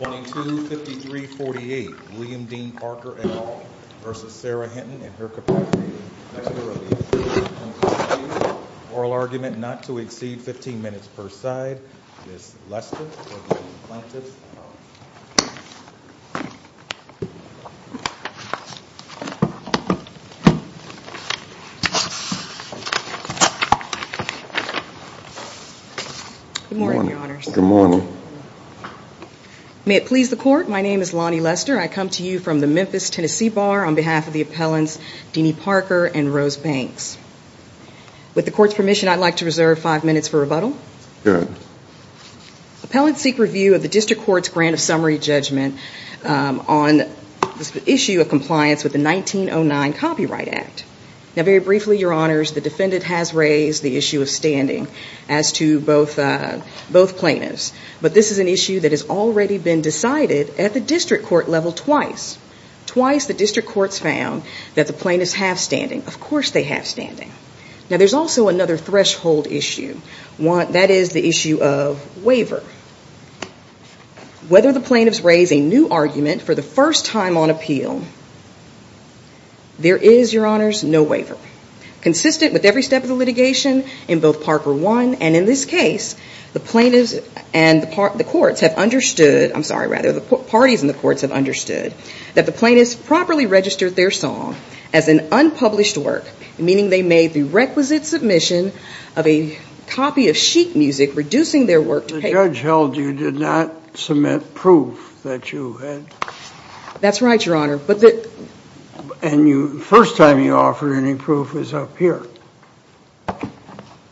22 53 48 William Dean Parker et al versus Sarah Hinton and her capacity oral argument not to exceed 15 minutes per side may it please the court my name is Lonnie Lester I come to you from the Memphis Tennessee bar on behalf of the appellants Deanie Parker and Rose Banks with the court's permission I'd like to reserve five minutes for rebuttal good appellate seek review of the district court's grant of summary judgment on the issue of compliance with the 1909 copyright act now very briefly your honors the defendant has raised the issue of standing as to both both plaintiffs but this is an issue that has already been decided at the district court level twice twice the district courts found that the plaintiffs have standing of course they have standing now there's also another threshold issue want that is the issue of waiver whether the plaintiffs raise a new argument for the first time on appeal there is your honors no waiver consistent with every step of the litigation in both Parker one and in this case the plaintiffs and the court the courts have understood I'm sorry rather the parties in the courts have understood that the plaintiffs properly registered their song as an unpublished work meaning they made the requisite submission of a copy of sheet music reducing their work to judge held you did not submit proof that you had that's right your honor but that and you first time you offer any proof is up here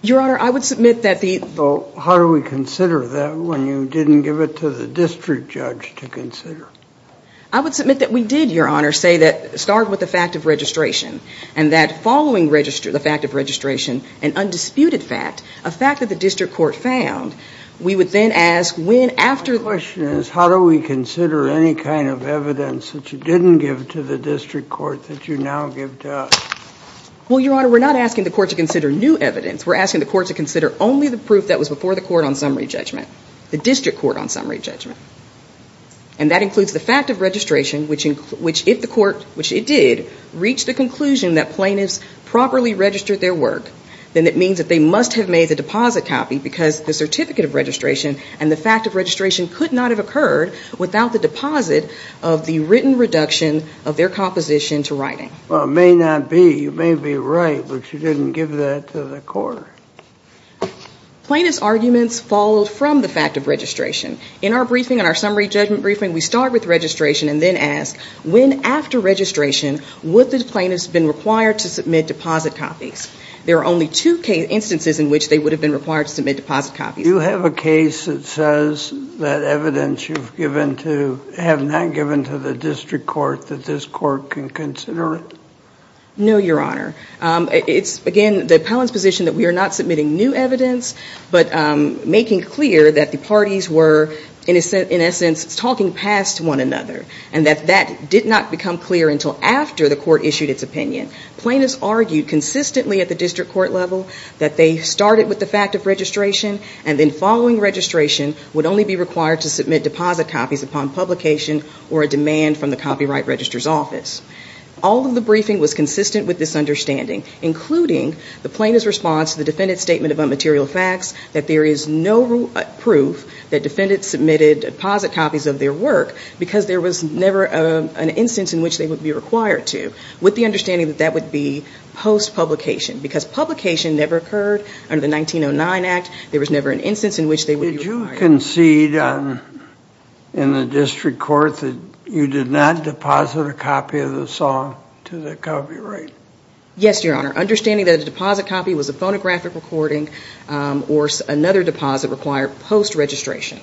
your honor I would submit that the vote how do we consider that when you didn't give it to the district judge to consider I would submit that we did your honor say that start with the fact of registration and that following register the fact of registration and undisputed fact a fact that the district court found we would then ask when after the question is how do we consider any kind of evidence that you didn't give to the district court that you now give to us well your honor we're not asking the court to consider new evidence we're asking the court to consider only the proof that was before the court on summary judgment the district court on summary judgment and that includes the fact of registration which in which if the court which it did reach the conclusion that plaintiffs properly registered their work then it means that they must have made the deposit copy because the certificate of registration and the fact of registration could not have occurred without the deposit of the written reduction of their composition to writing well may not be you may be right but you didn't give that to the court plaintiffs arguments followed from the fact of registration in our briefing on our summary judgment briefing we start with registration and then ask when after registration would the plaintiffs been required to submit deposit copies there are only two cases instances in which they would have been required to submit deposit copies you have a case that says that evidence you've given to have not given to the district court that this court can consider it no your honor it's again the appellant's position that we are not submitting new evidence but making clear that the parties were innocent in essence talking past one another and that that did not become clear until after the court issued its opinion plaintiffs argued consistently at the district court level that they started with the fact of registration and then following registration would only be required to submit deposit copies upon publication or a demand from the copyright registrar's office all of the briefing was consistent with this understanding including the plaintiff's response to the defendant's statement about material facts that there is no proof that defendants submitted deposit copies of their work because there was never an instance in which they would be required to with the understanding that that would be post publication because publication never occurred under the 1909 act there was never an instance in which they would you concede on in the district court that you did not deposit a copy of the song to the copyright yes your honor understanding that a deposit copy was a phonographic recording or another deposit required post registration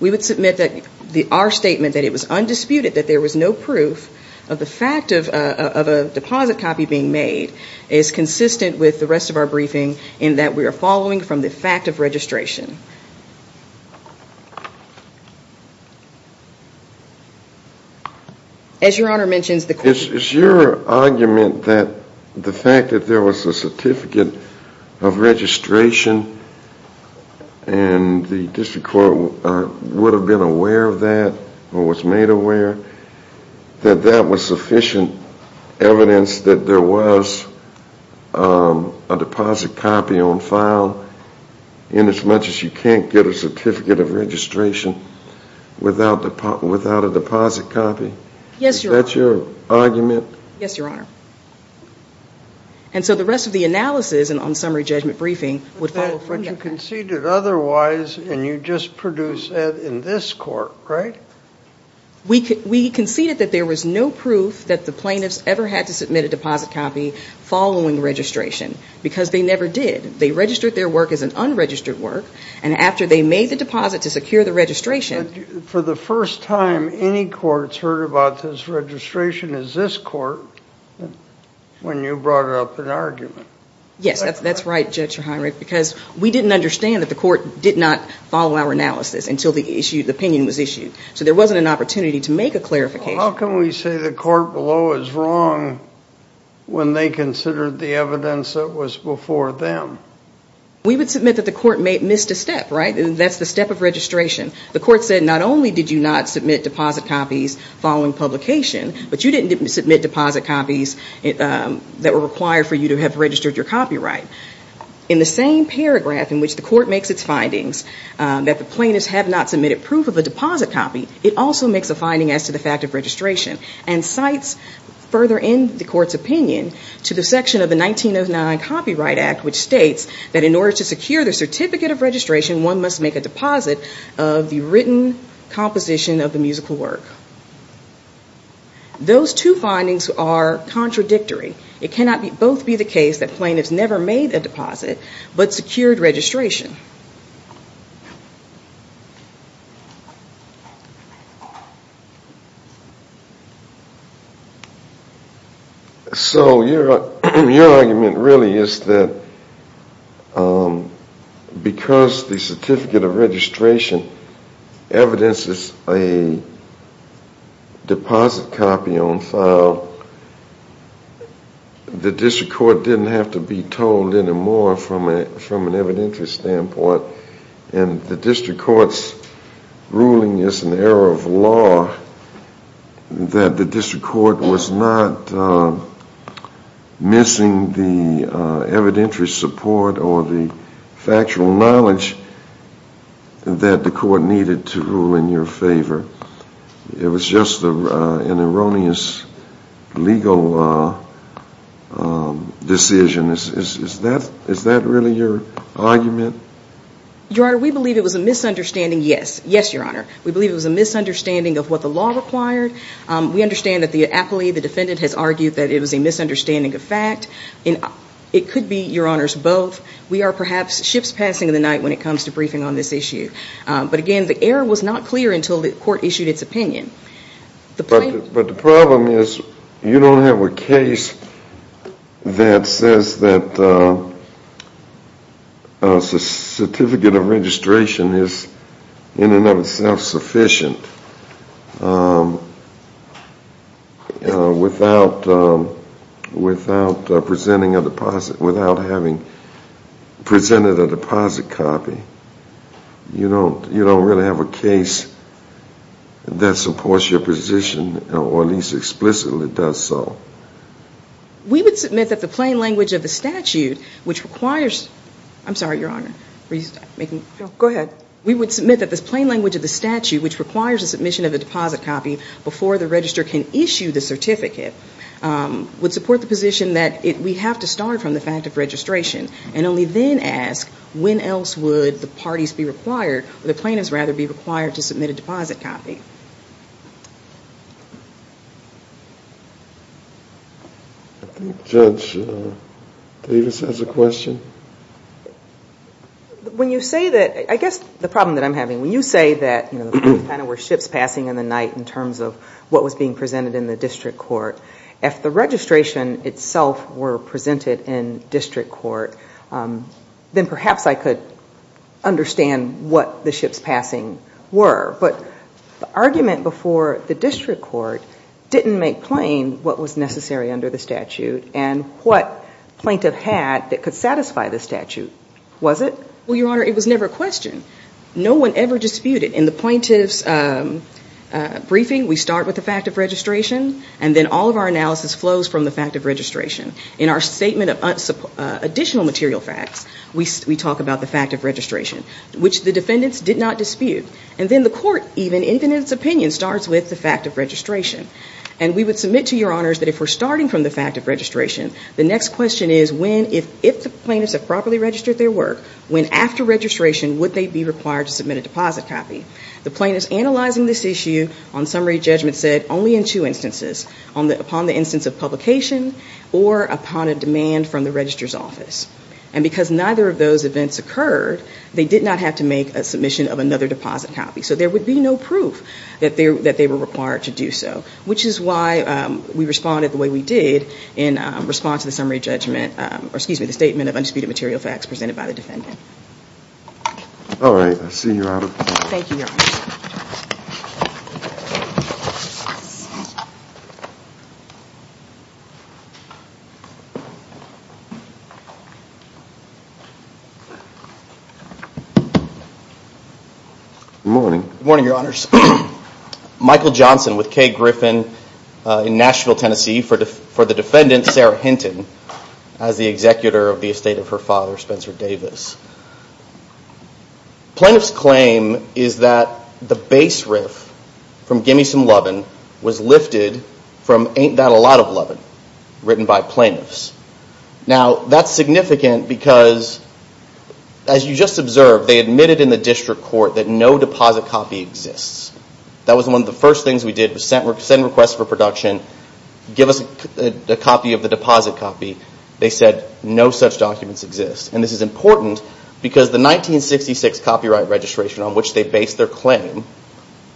we would submit that our statement that it was undisputed that there was no proof of the fact of a deposit copy being made is consistent with the rest of our briefing in that we are following from the fact of registration as your honor mentions the case is your argument that the fact that there was a certificate of registration and the district court would have been aware of that or was made aware that that was sufficient evidence that there was a deposit copy on file in as much as you can't get a certificate of registration without the part without a deposit copy yes that's your argument yes your honor and so the rest of the analysis and on summary judgment briefing would follow but you conceded otherwise and you just produce that in this court right we could we conceded that there was no proof that the plaintiffs ever had to submit a deposit copy following registration because they never did they registered their work as an unregistered work and after they made the deposit to secure the registration for the first time any courts heard about this registration is this court when you brought up an argument yes that's that's right judge because we didn't understand that the court did not follow our analysis until the issue the opinion was issued so there wasn't an opportunity to make a clarification how can we say the court below is wrong when they considered the evidence that was before them we would submit that the court may have missed a step right and that's the step of registration the publication but you didn't submit deposit copies that were required for you to have registered your copyright in the same paragraph in which the court makes its findings that the plaintiffs have not submitted proof of a deposit copy it also makes a finding as to the fact of registration and cites further in the court's opinion to the section of the 1909 Copyright Act which states that in order to secure the certificate of registration one must make a deposit of the written composition of the musical work those two findings are contradictory it cannot be both be the case that plaintiffs never made a deposit but secured registration so your argument really is that because the certificate of registration evidences a deposit copy on file the district court didn't have to be told anymore from a from an evidentiary standpoint and the district courts ruling is an error of law that the district court was not missing the that the court needed to rule in your favor it was just an erroneous legal decision is that is that really your argument your honor we believe it was a misunderstanding yes yes your honor we believe it was a misunderstanding of what the law required we understand that the appellee the defendant has argued that it was a misunderstanding of fact and it could be your honors both we are issue but again the error was not clear until the court issued its opinion the but the problem is you don't have a case that says that a certificate of registration is in and of itself sufficient without without presenting a deposit without having presented a deposit copy you don't you don't really have a case that supports your position or at least explicitly does so we would submit that the plain language of the statute which requires I'm sorry your honor go ahead we would submit that this plain language of the statute which requires a submission of a deposit copy before the register can issue the from the fact of registration and only then ask when else would the parties be required the plaintiffs rather be required to submit a deposit copy judge Davis has a question when you say that I guess the problem that I'm having when you say that you know we're ships passing in the night in terms of what was being presented in the district court if the registration itself were presented in district court then perhaps I could understand what the ships passing were but the argument before the district court didn't make plain what was necessary under the statute and what plaintiff had that could satisfy the statute was it we are it was never a question no one ever disputed in the plaintiffs briefing we start with the fact of registration and then all of our analysis flows from the fact of registration in our statement of additional material facts we talk about the fact of registration which the defendants did not dispute and then the court even infinite opinion starts with the fact of registration and we would submit to your honors that if we're starting from the fact of registration the next question is when if if the plaintiffs have properly registered their work when after registration would they be required to submit a deposit copy the plaintiffs analyzing this issue on summary judgment said only in two instances on the upon the instance of publication or upon a demand from the registrar's office and because neither of those events occurred they did not have to make a submission of another deposit copy so there would be no proof that there that they were required to do so which is why we responded the way we did in response to the summary judgment or excuse me the statement of undisputed material facts presented by the morning morning your honors michael johnson with k griffin in nashville tennessee for the for the defendant sarah hinton as the executor of the from gimme some lovin was lifted from ain't that a lot of lovin written by plaintiffs now that's significant because as you just observed they admitted in the district court that no deposit copy exists that was one of the first things we did was send requests for production give us a copy of the deposit copy they said no such documents exist and this is important because the nineteen sixty six copyright registration on which they based their planning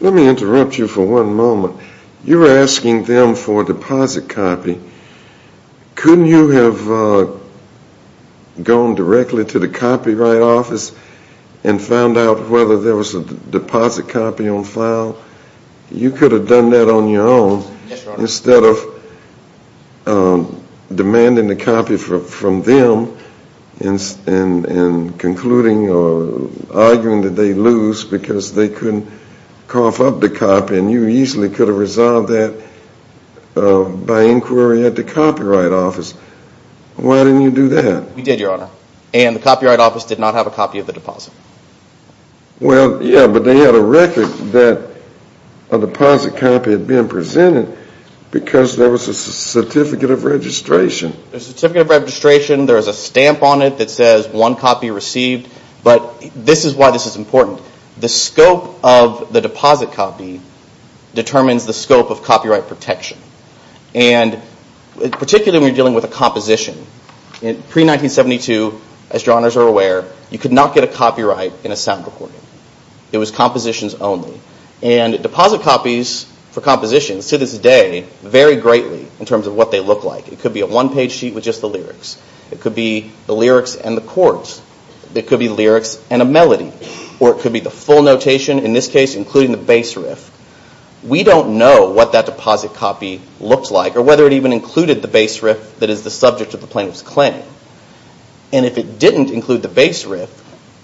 let me interrupt you for one moment you're asking them for deposit copy couldn't you have gone directly to the copyright office and found out whether there was a deposit copy on file you could have done that on your own instead of demanding the copy from them and concluding or arguing that they lose because they couldn't cough up the copy and you easily could have resolved that by inquiry at the copyright office why didn't you do that we did your honor and the copyright office did not have a copy of the deposit well yeah but they had a record that a deposit copy had been presented because there was a certificate of registration a certificate of registration there's a stamp on it that says one copy received but this is why this is important the scope of the deposit copy determines the scope of copyright protection and particularly when you're dealing with a composition in pre-1972 as your honors are aware you could not get a copyright in a sound recording it was compositions only and deposit copies for compositions to this day vary greatly in terms of what they look like it could be a one-page sheet with just the lyrics it could be the full notation in this case including the base riff we don't know what that deposit copy looks like or whether it even included the base riff that is the subject of the plaintiff's claim and if it didn't include the base riff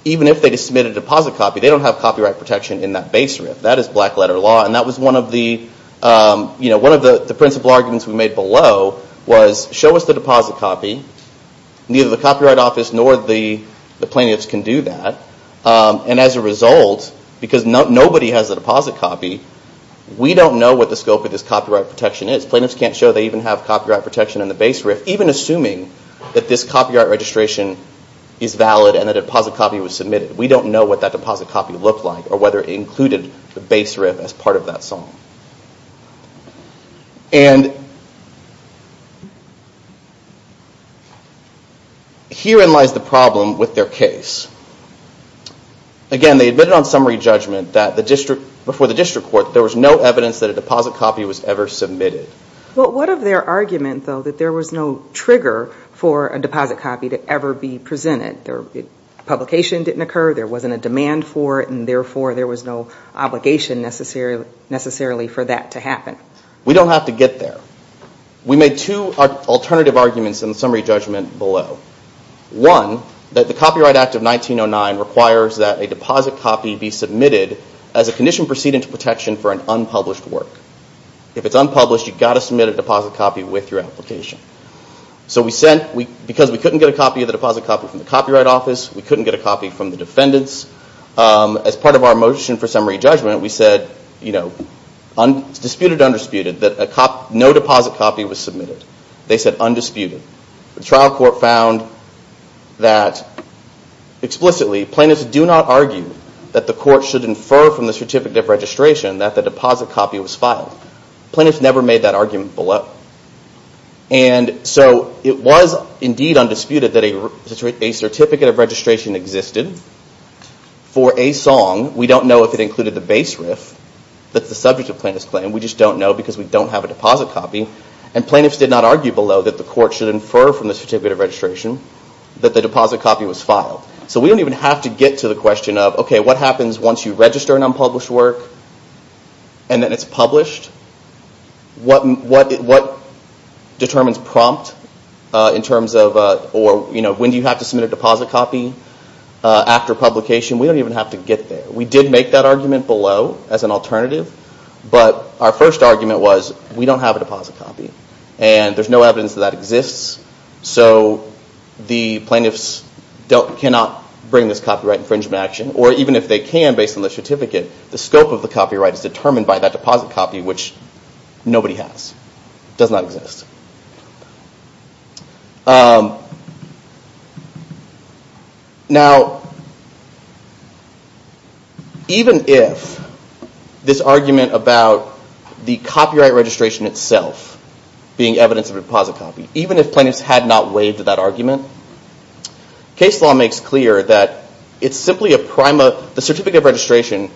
even if they just submitted a deposit copy they don't have copyright protection in that base riff that is black letter law and that was one of the you know one of the principal arguments we made below was show us the deposit copy neither the gold because nobody has a deposit copy we don't know what the scope of this copyright protection is plaintiffs can't show they even have copyright protection in the base riff even assuming that this copyright registration is valid and the deposit copy was submitted we don't know what that deposit copy looked like or whether it included the base riff as part of that song and herein lies the argument that the deposit copy was never submitted. Well what of their argument though that there was no trigger for a deposit copy to ever be presented their publication didn't occur there wasn't a demand for it and therefore there was no obligation necessarily for that to happen. We don't have to get there we made two alternative arguments in the summary that a deposit copy be submitted as a condition proceeding to protection for an unpublished work if it's unpublished you've got to submit a deposit copy with your application so we sent because we couldn't get a copy of the deposit copy from the copyright office we couldn't get a copy from the defendants as part of our motion for summary judgment we said you know disputed or undisputed that no deposit copy was submitted they said undisputed the trial court found that explicitly plaintiffs do not argue that the court should infer from the certificate of registration that the deposit copy was filed. Plaintiffs never made that argument below and so it was indeed undisputed that a certificate of registration existed for a song we don't know if it included the base riff that's the subject of plaintiff's claim we just don't know because we don't have a deposit copy and plaintiffs did not argue below that the court should infer from the certificate of registration that the deposit copy was filed so we don't even have to get to the question of okay what happens once you register an unpublished work and then it's published what determines prompt in terms of or you know when do you have to submit a deposit copy after publication we don't even have to get there we did make that argument below as an alternative but our first argument was we don't have a cannot bring this copyright infringement action or even if they can based on the certificate the scope of the copyright is determined by that deposit copy which nobody has does not exist now even if this argument about the copyright registration itself being evidence of deposit copy even if plaintiffs had not waived that argument case law makes clear that it's simply a prima the certificate of registration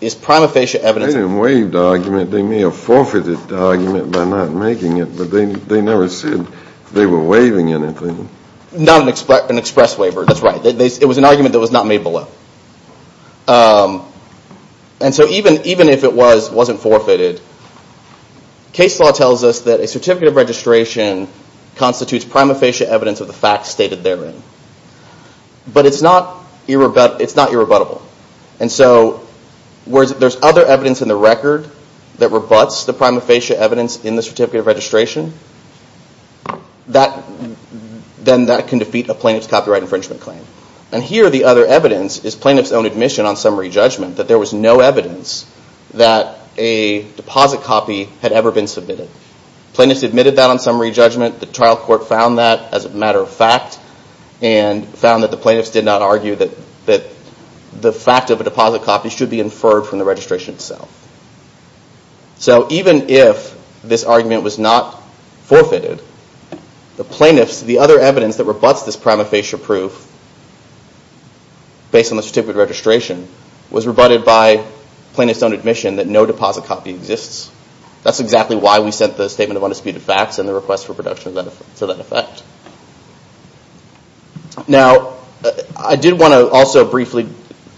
is prima facie evidence and waived argument they may have forfeited argument by not making it but they never said they were waiving anything not an express waiver that's right it was an argument that was not made below and so even even if it was wasn't forfeited case law tells us that a certificate of registration was not stated therein but it's not it's not irrebuttable and so whereas there's other evidence in the record that rebuts the prima facie evidence in the certificate of registration that then that can defeat a plaintiff's copyright infringement claim and here the other evidence is plaintiff's own admission on summary judgment that there was no evidence that a deposit copy had ever been submitted plaintiffs admitted that on summary judgment the and found that the plaintiffs did not argue that that the fact of a deposit copy should be inferred from the registration itself so even if this argument was not forfeited the plaintiffs the other evidence that rebutts this prima facie proof based on the certificate of registration was rebutted by plaintiffs own admission that no deposit copy exists that's exactly why we sent the statement of undisputed facts and the request for now I did want to also briefly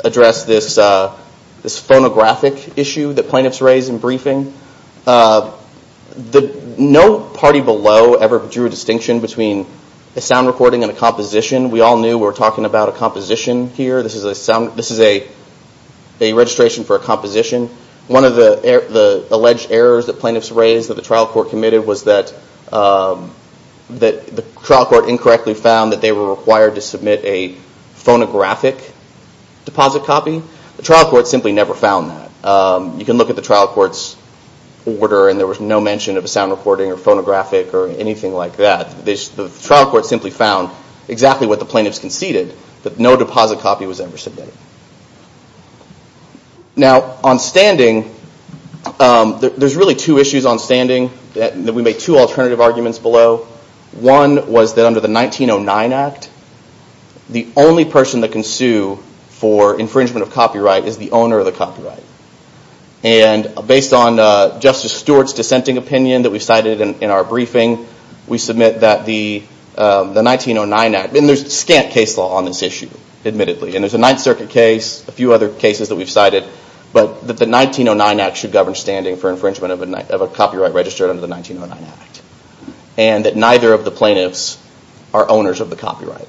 address this this phonographic issue that plaintiffs raised in briefing the no party below ever drew a distinction between a sound recording and a composition we all knew we were talking about a composition here this is a sound this is a a registration for a composition one of the alleged errors that plaintiffs raised that the trial court incorrectly found that they were required to submit a phonographic deposit copy the trial court simply never found that you can look at the trial courts order and there was no mention of a sound recording or phonographic or anything like that this trial court simply found exactly what the plaintiffs conceded that no deposit copy was ever submitted now on standing there's really two issues on standing that we made two alternative arguments below one was that under the 1909 Act the only person that can sue for infringement of copyright is the owner of the copyright and based on Justice Stewart's dissenting opinion that we cited in our briefing we submit that the 1909 Act and there's scant case law on this issue admittedly and there's a Ninth Circuit case a few other cases that we've cited but that the 1909 Act should govern standing for infringement of a copyright registered under the 1909 Act and that neither of the plaintiffs are owners of the copyright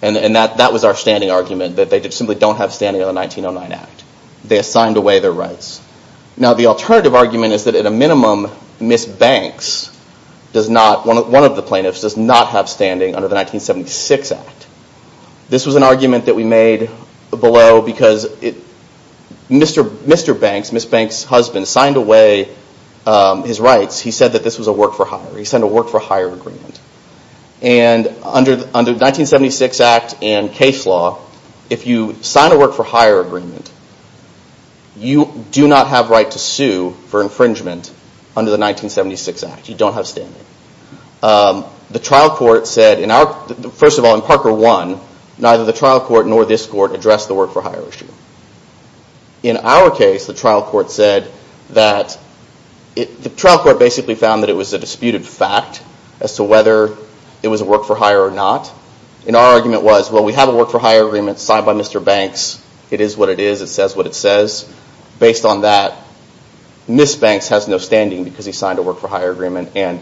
and and that that was our standing argument that they did simply don't have standing on the 1909 Act they assigned away their rights now the alternative argument is that at a minimum Miss Banks does not one of the plaintiffs does not have standing under the 1976 Act this was an argument that we made below because it Mr. Mr. Banks Miss Banks husband signed away his rights he said that this was a work-for-hire he sent a work-for-hire agreement and under under 1976 Act and case law if you sign a work-for-hire agreement you do not have right to sue for infringement under the 1976 Act you don't have standing the trial court said in our first of all in Parker one neither the trial court nor this court addressed the work-for-hire issue in our case the trial court said that it the trial court basically found that it was a disputed fact as to whether it was a work-for-hire or not in our argument was well we have a work-for-hire agreement signed by Mr. Banks it is what it is it says what it says based on that Miss Banks has no standing because he signed a work-for-hire agreement and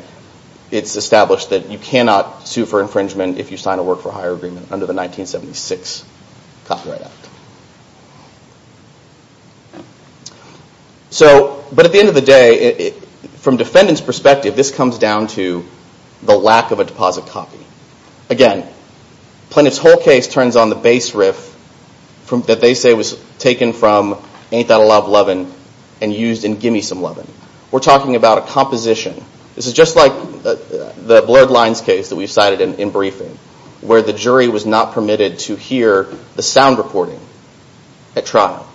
it's established that you cannot sue for infringement if you sign a work-for-hire agreement under the 1976 Copyright Act so but at the end of the day it from defendants perspective this comes down to the lack of a deposit copy again planets whole case turns on the bass riff from that they say was taken from ain't that a love lovin and used in gimme some lovin we're talking about a composition this is just like the blurred lines case that we've cited in briefing where the jury was not permitted to hear the sound recording at trial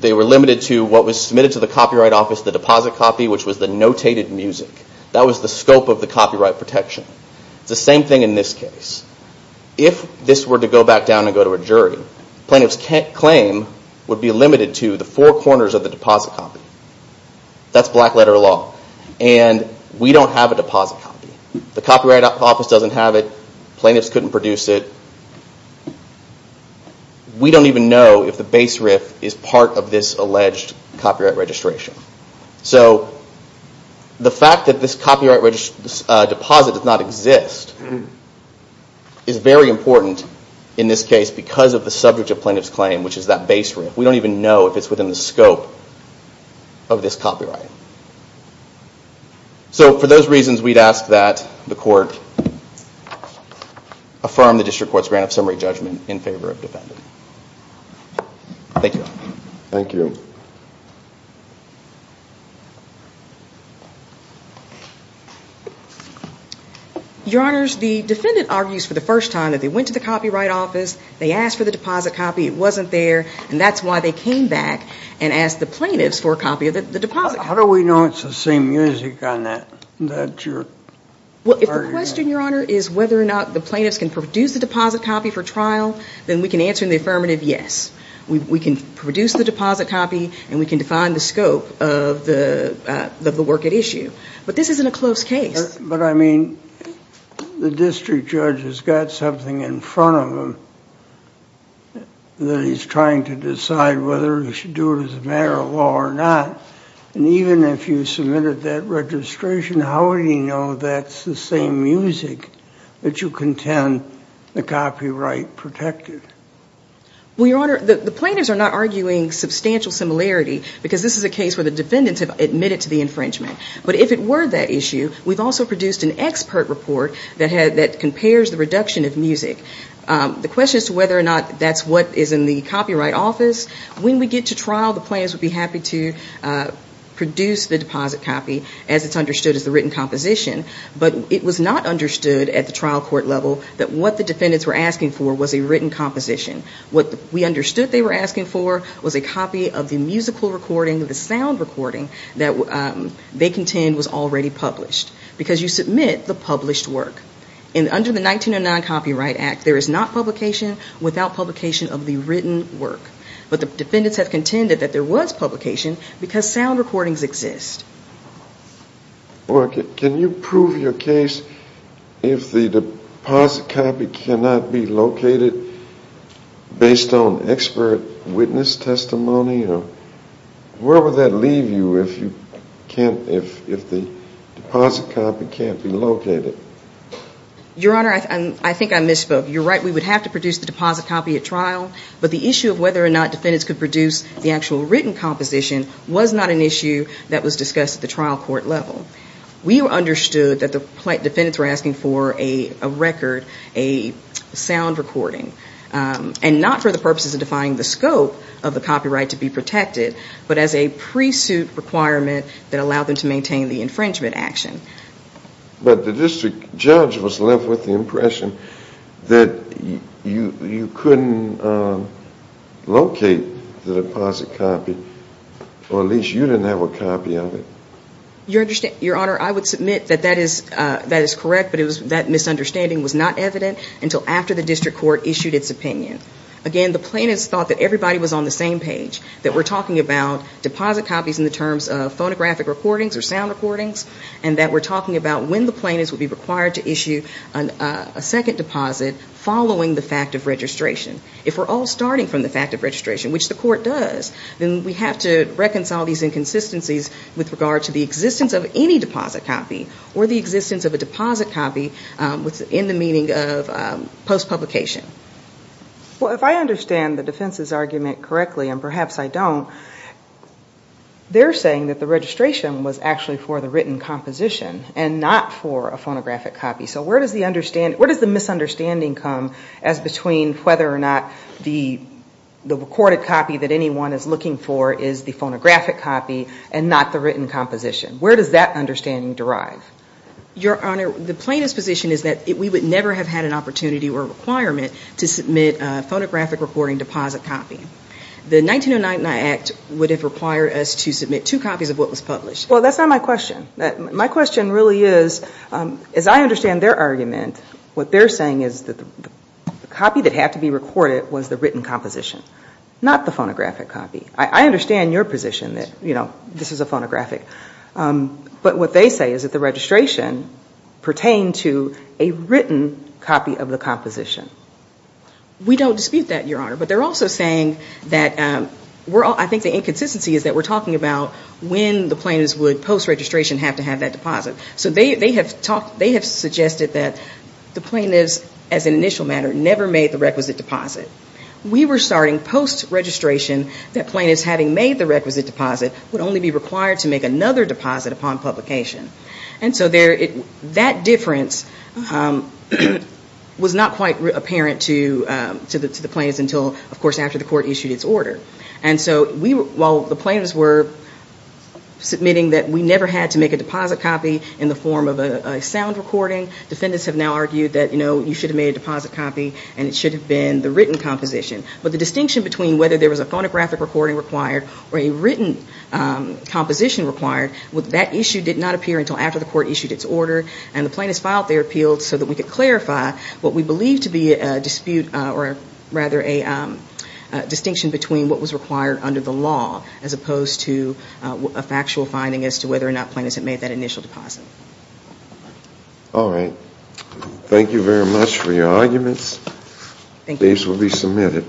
they were limited to what was submitted to the Copyright Office the deposit copy which was the notated music that was the scope of the copyright protection the same thing in this case if this were to go back down and go to a jury plaintiffs can't claim would be limited to the four corners of the deposit copy that's black letter law and we don't have a deposit copy the plaintiffs couldn't produce it we don't even know if the bass riff is part of this alleged copyright registration so the fact that this copyright register deposit does not exist is very important in this case because of the subject of plaintiffs claim which is that base room we don't even know if it's within the affirm the district court's grant of summary judgment in favor of defendant thank you thank you your honors the defendant argues for the first time that they went to the Copyright Office they asked for the deposit copy it wasn't there and that's why they came back and asked the plaintiffs for a copy of it the deposit how do we know it's the same music on that that you're well if the question your honor is whether or not the plaintiffs can produce the deposit copy for trial then we can answer in the affirmative yes we can produce the deposit copy and we can define the scope of the work at issue but this isn't a close case but I mean the district judge has got something in front of him that he's trying to decide whether he should do it as a matter of law or not and even if you submitted that registration how do you know that's the same music that you contend the copyright protected well your honor the plaintiffs are not arguing substantial similarity because this is a case where the defendants have admitted to the infringement but if it were that issue we've also produced an expert report that had that compares the reduction of music the question is to whether or not that's what is in the Copyright Office when we get to trial the plans would be happy to produce the deposit copy as it's understood as the written composition but it was not understood at the trial court level that what the defendants were asking for was a written composition what we understood they were asking for was a copy of the musical recording the sound recording that they contend was already published because you submit the published work and under the 1909 Copyright Act there is not publication without publication of the written work but the defendants have contended that there was publication because sound recordings exist can you prove your case if the deposit copy cannot be located based on expert witness testimony or where would that leave you if you can't if the deposit copy can't be located your honor I think I misspoke you're right we would have to trial but the issue of whether or not defendants could produce the actual written composition was not an issue that was discussed at the trial court level we understood that the defendants were asking for a record a sound recording and not for the purposes of defining the scope of the copyright to be protected but as a pre-suit requirement that allowed them to maintain the infringement action but the district judge was left with the locate the deposit copy or at least you didn't have a copy of it you understand your honor I would submit that that is that is correct but it was that misunderstanding was not evident until after the district court issued its opinion again the plaintiffs thought that everybody was on the same page that we're talking about deposit copies in the terms of phonographic recordings or sound recordings and that we're talking about when the plaintiffs would be required to issue a second deposit following the fact of registration if we're all starting from the fact of registration which the court does then we have to reconcile these inconsistencies with regard to the existence of any deposit copy or the existence of a deposit copy within the meaning of post publication well if I understand the defense's argument correctly and perhaps I don't they're saying that the registration was actually for the written composition and not for a phonographic copy so where does the understanding where does the misunderstanding come as between whether or not the the recorded copy that anyone is looking for is the phonographic copy and not the written composition where does that understanding derive your honor the plaintiff's position is that it we would never have had an opportunity or requirement to submit a phonographic recording deposit copy the 1909 act would have required us to submit two copies of what was published well that's not my question that my question really is as I understand their argument what they're saying is that the copy that had to be recorded was the written composition not the phonographic copy I understand your position that you know this is a phonographic but what they say is that the registration pertained to a written copy of the composition we don't dispute that your honor but they're also saying that we're all I think the inconsistency is that we're talking about when the plaintiffs would post registration have to have that deposit so they have talked they have suggested that the plaintiffs as an initial matter never made the requisite deposit we were starting post registration that plaintiffs having made the requisite deposit would only be required to make another deposit upon publication and so there it that difference was not quite apparent to the plaintiffs until of course after the court issued its order and so we while the plaintiffs were submitting that we never had to make a deposit copy in the form of a sound recording defendants have now argued that you know you should have made a deposit copy and it should have been the written composition but the distinction between whether there was a phonographic recording required or a written composition required with that issue did not appear until after the court issued its order and the plaintiffs filed their appeals so that we could clarify what we believe to be a dispute or rather a distinction between what was required under the law as opposed to a factual finding as to whether or not all right thank you very much for your arguments these will be submitted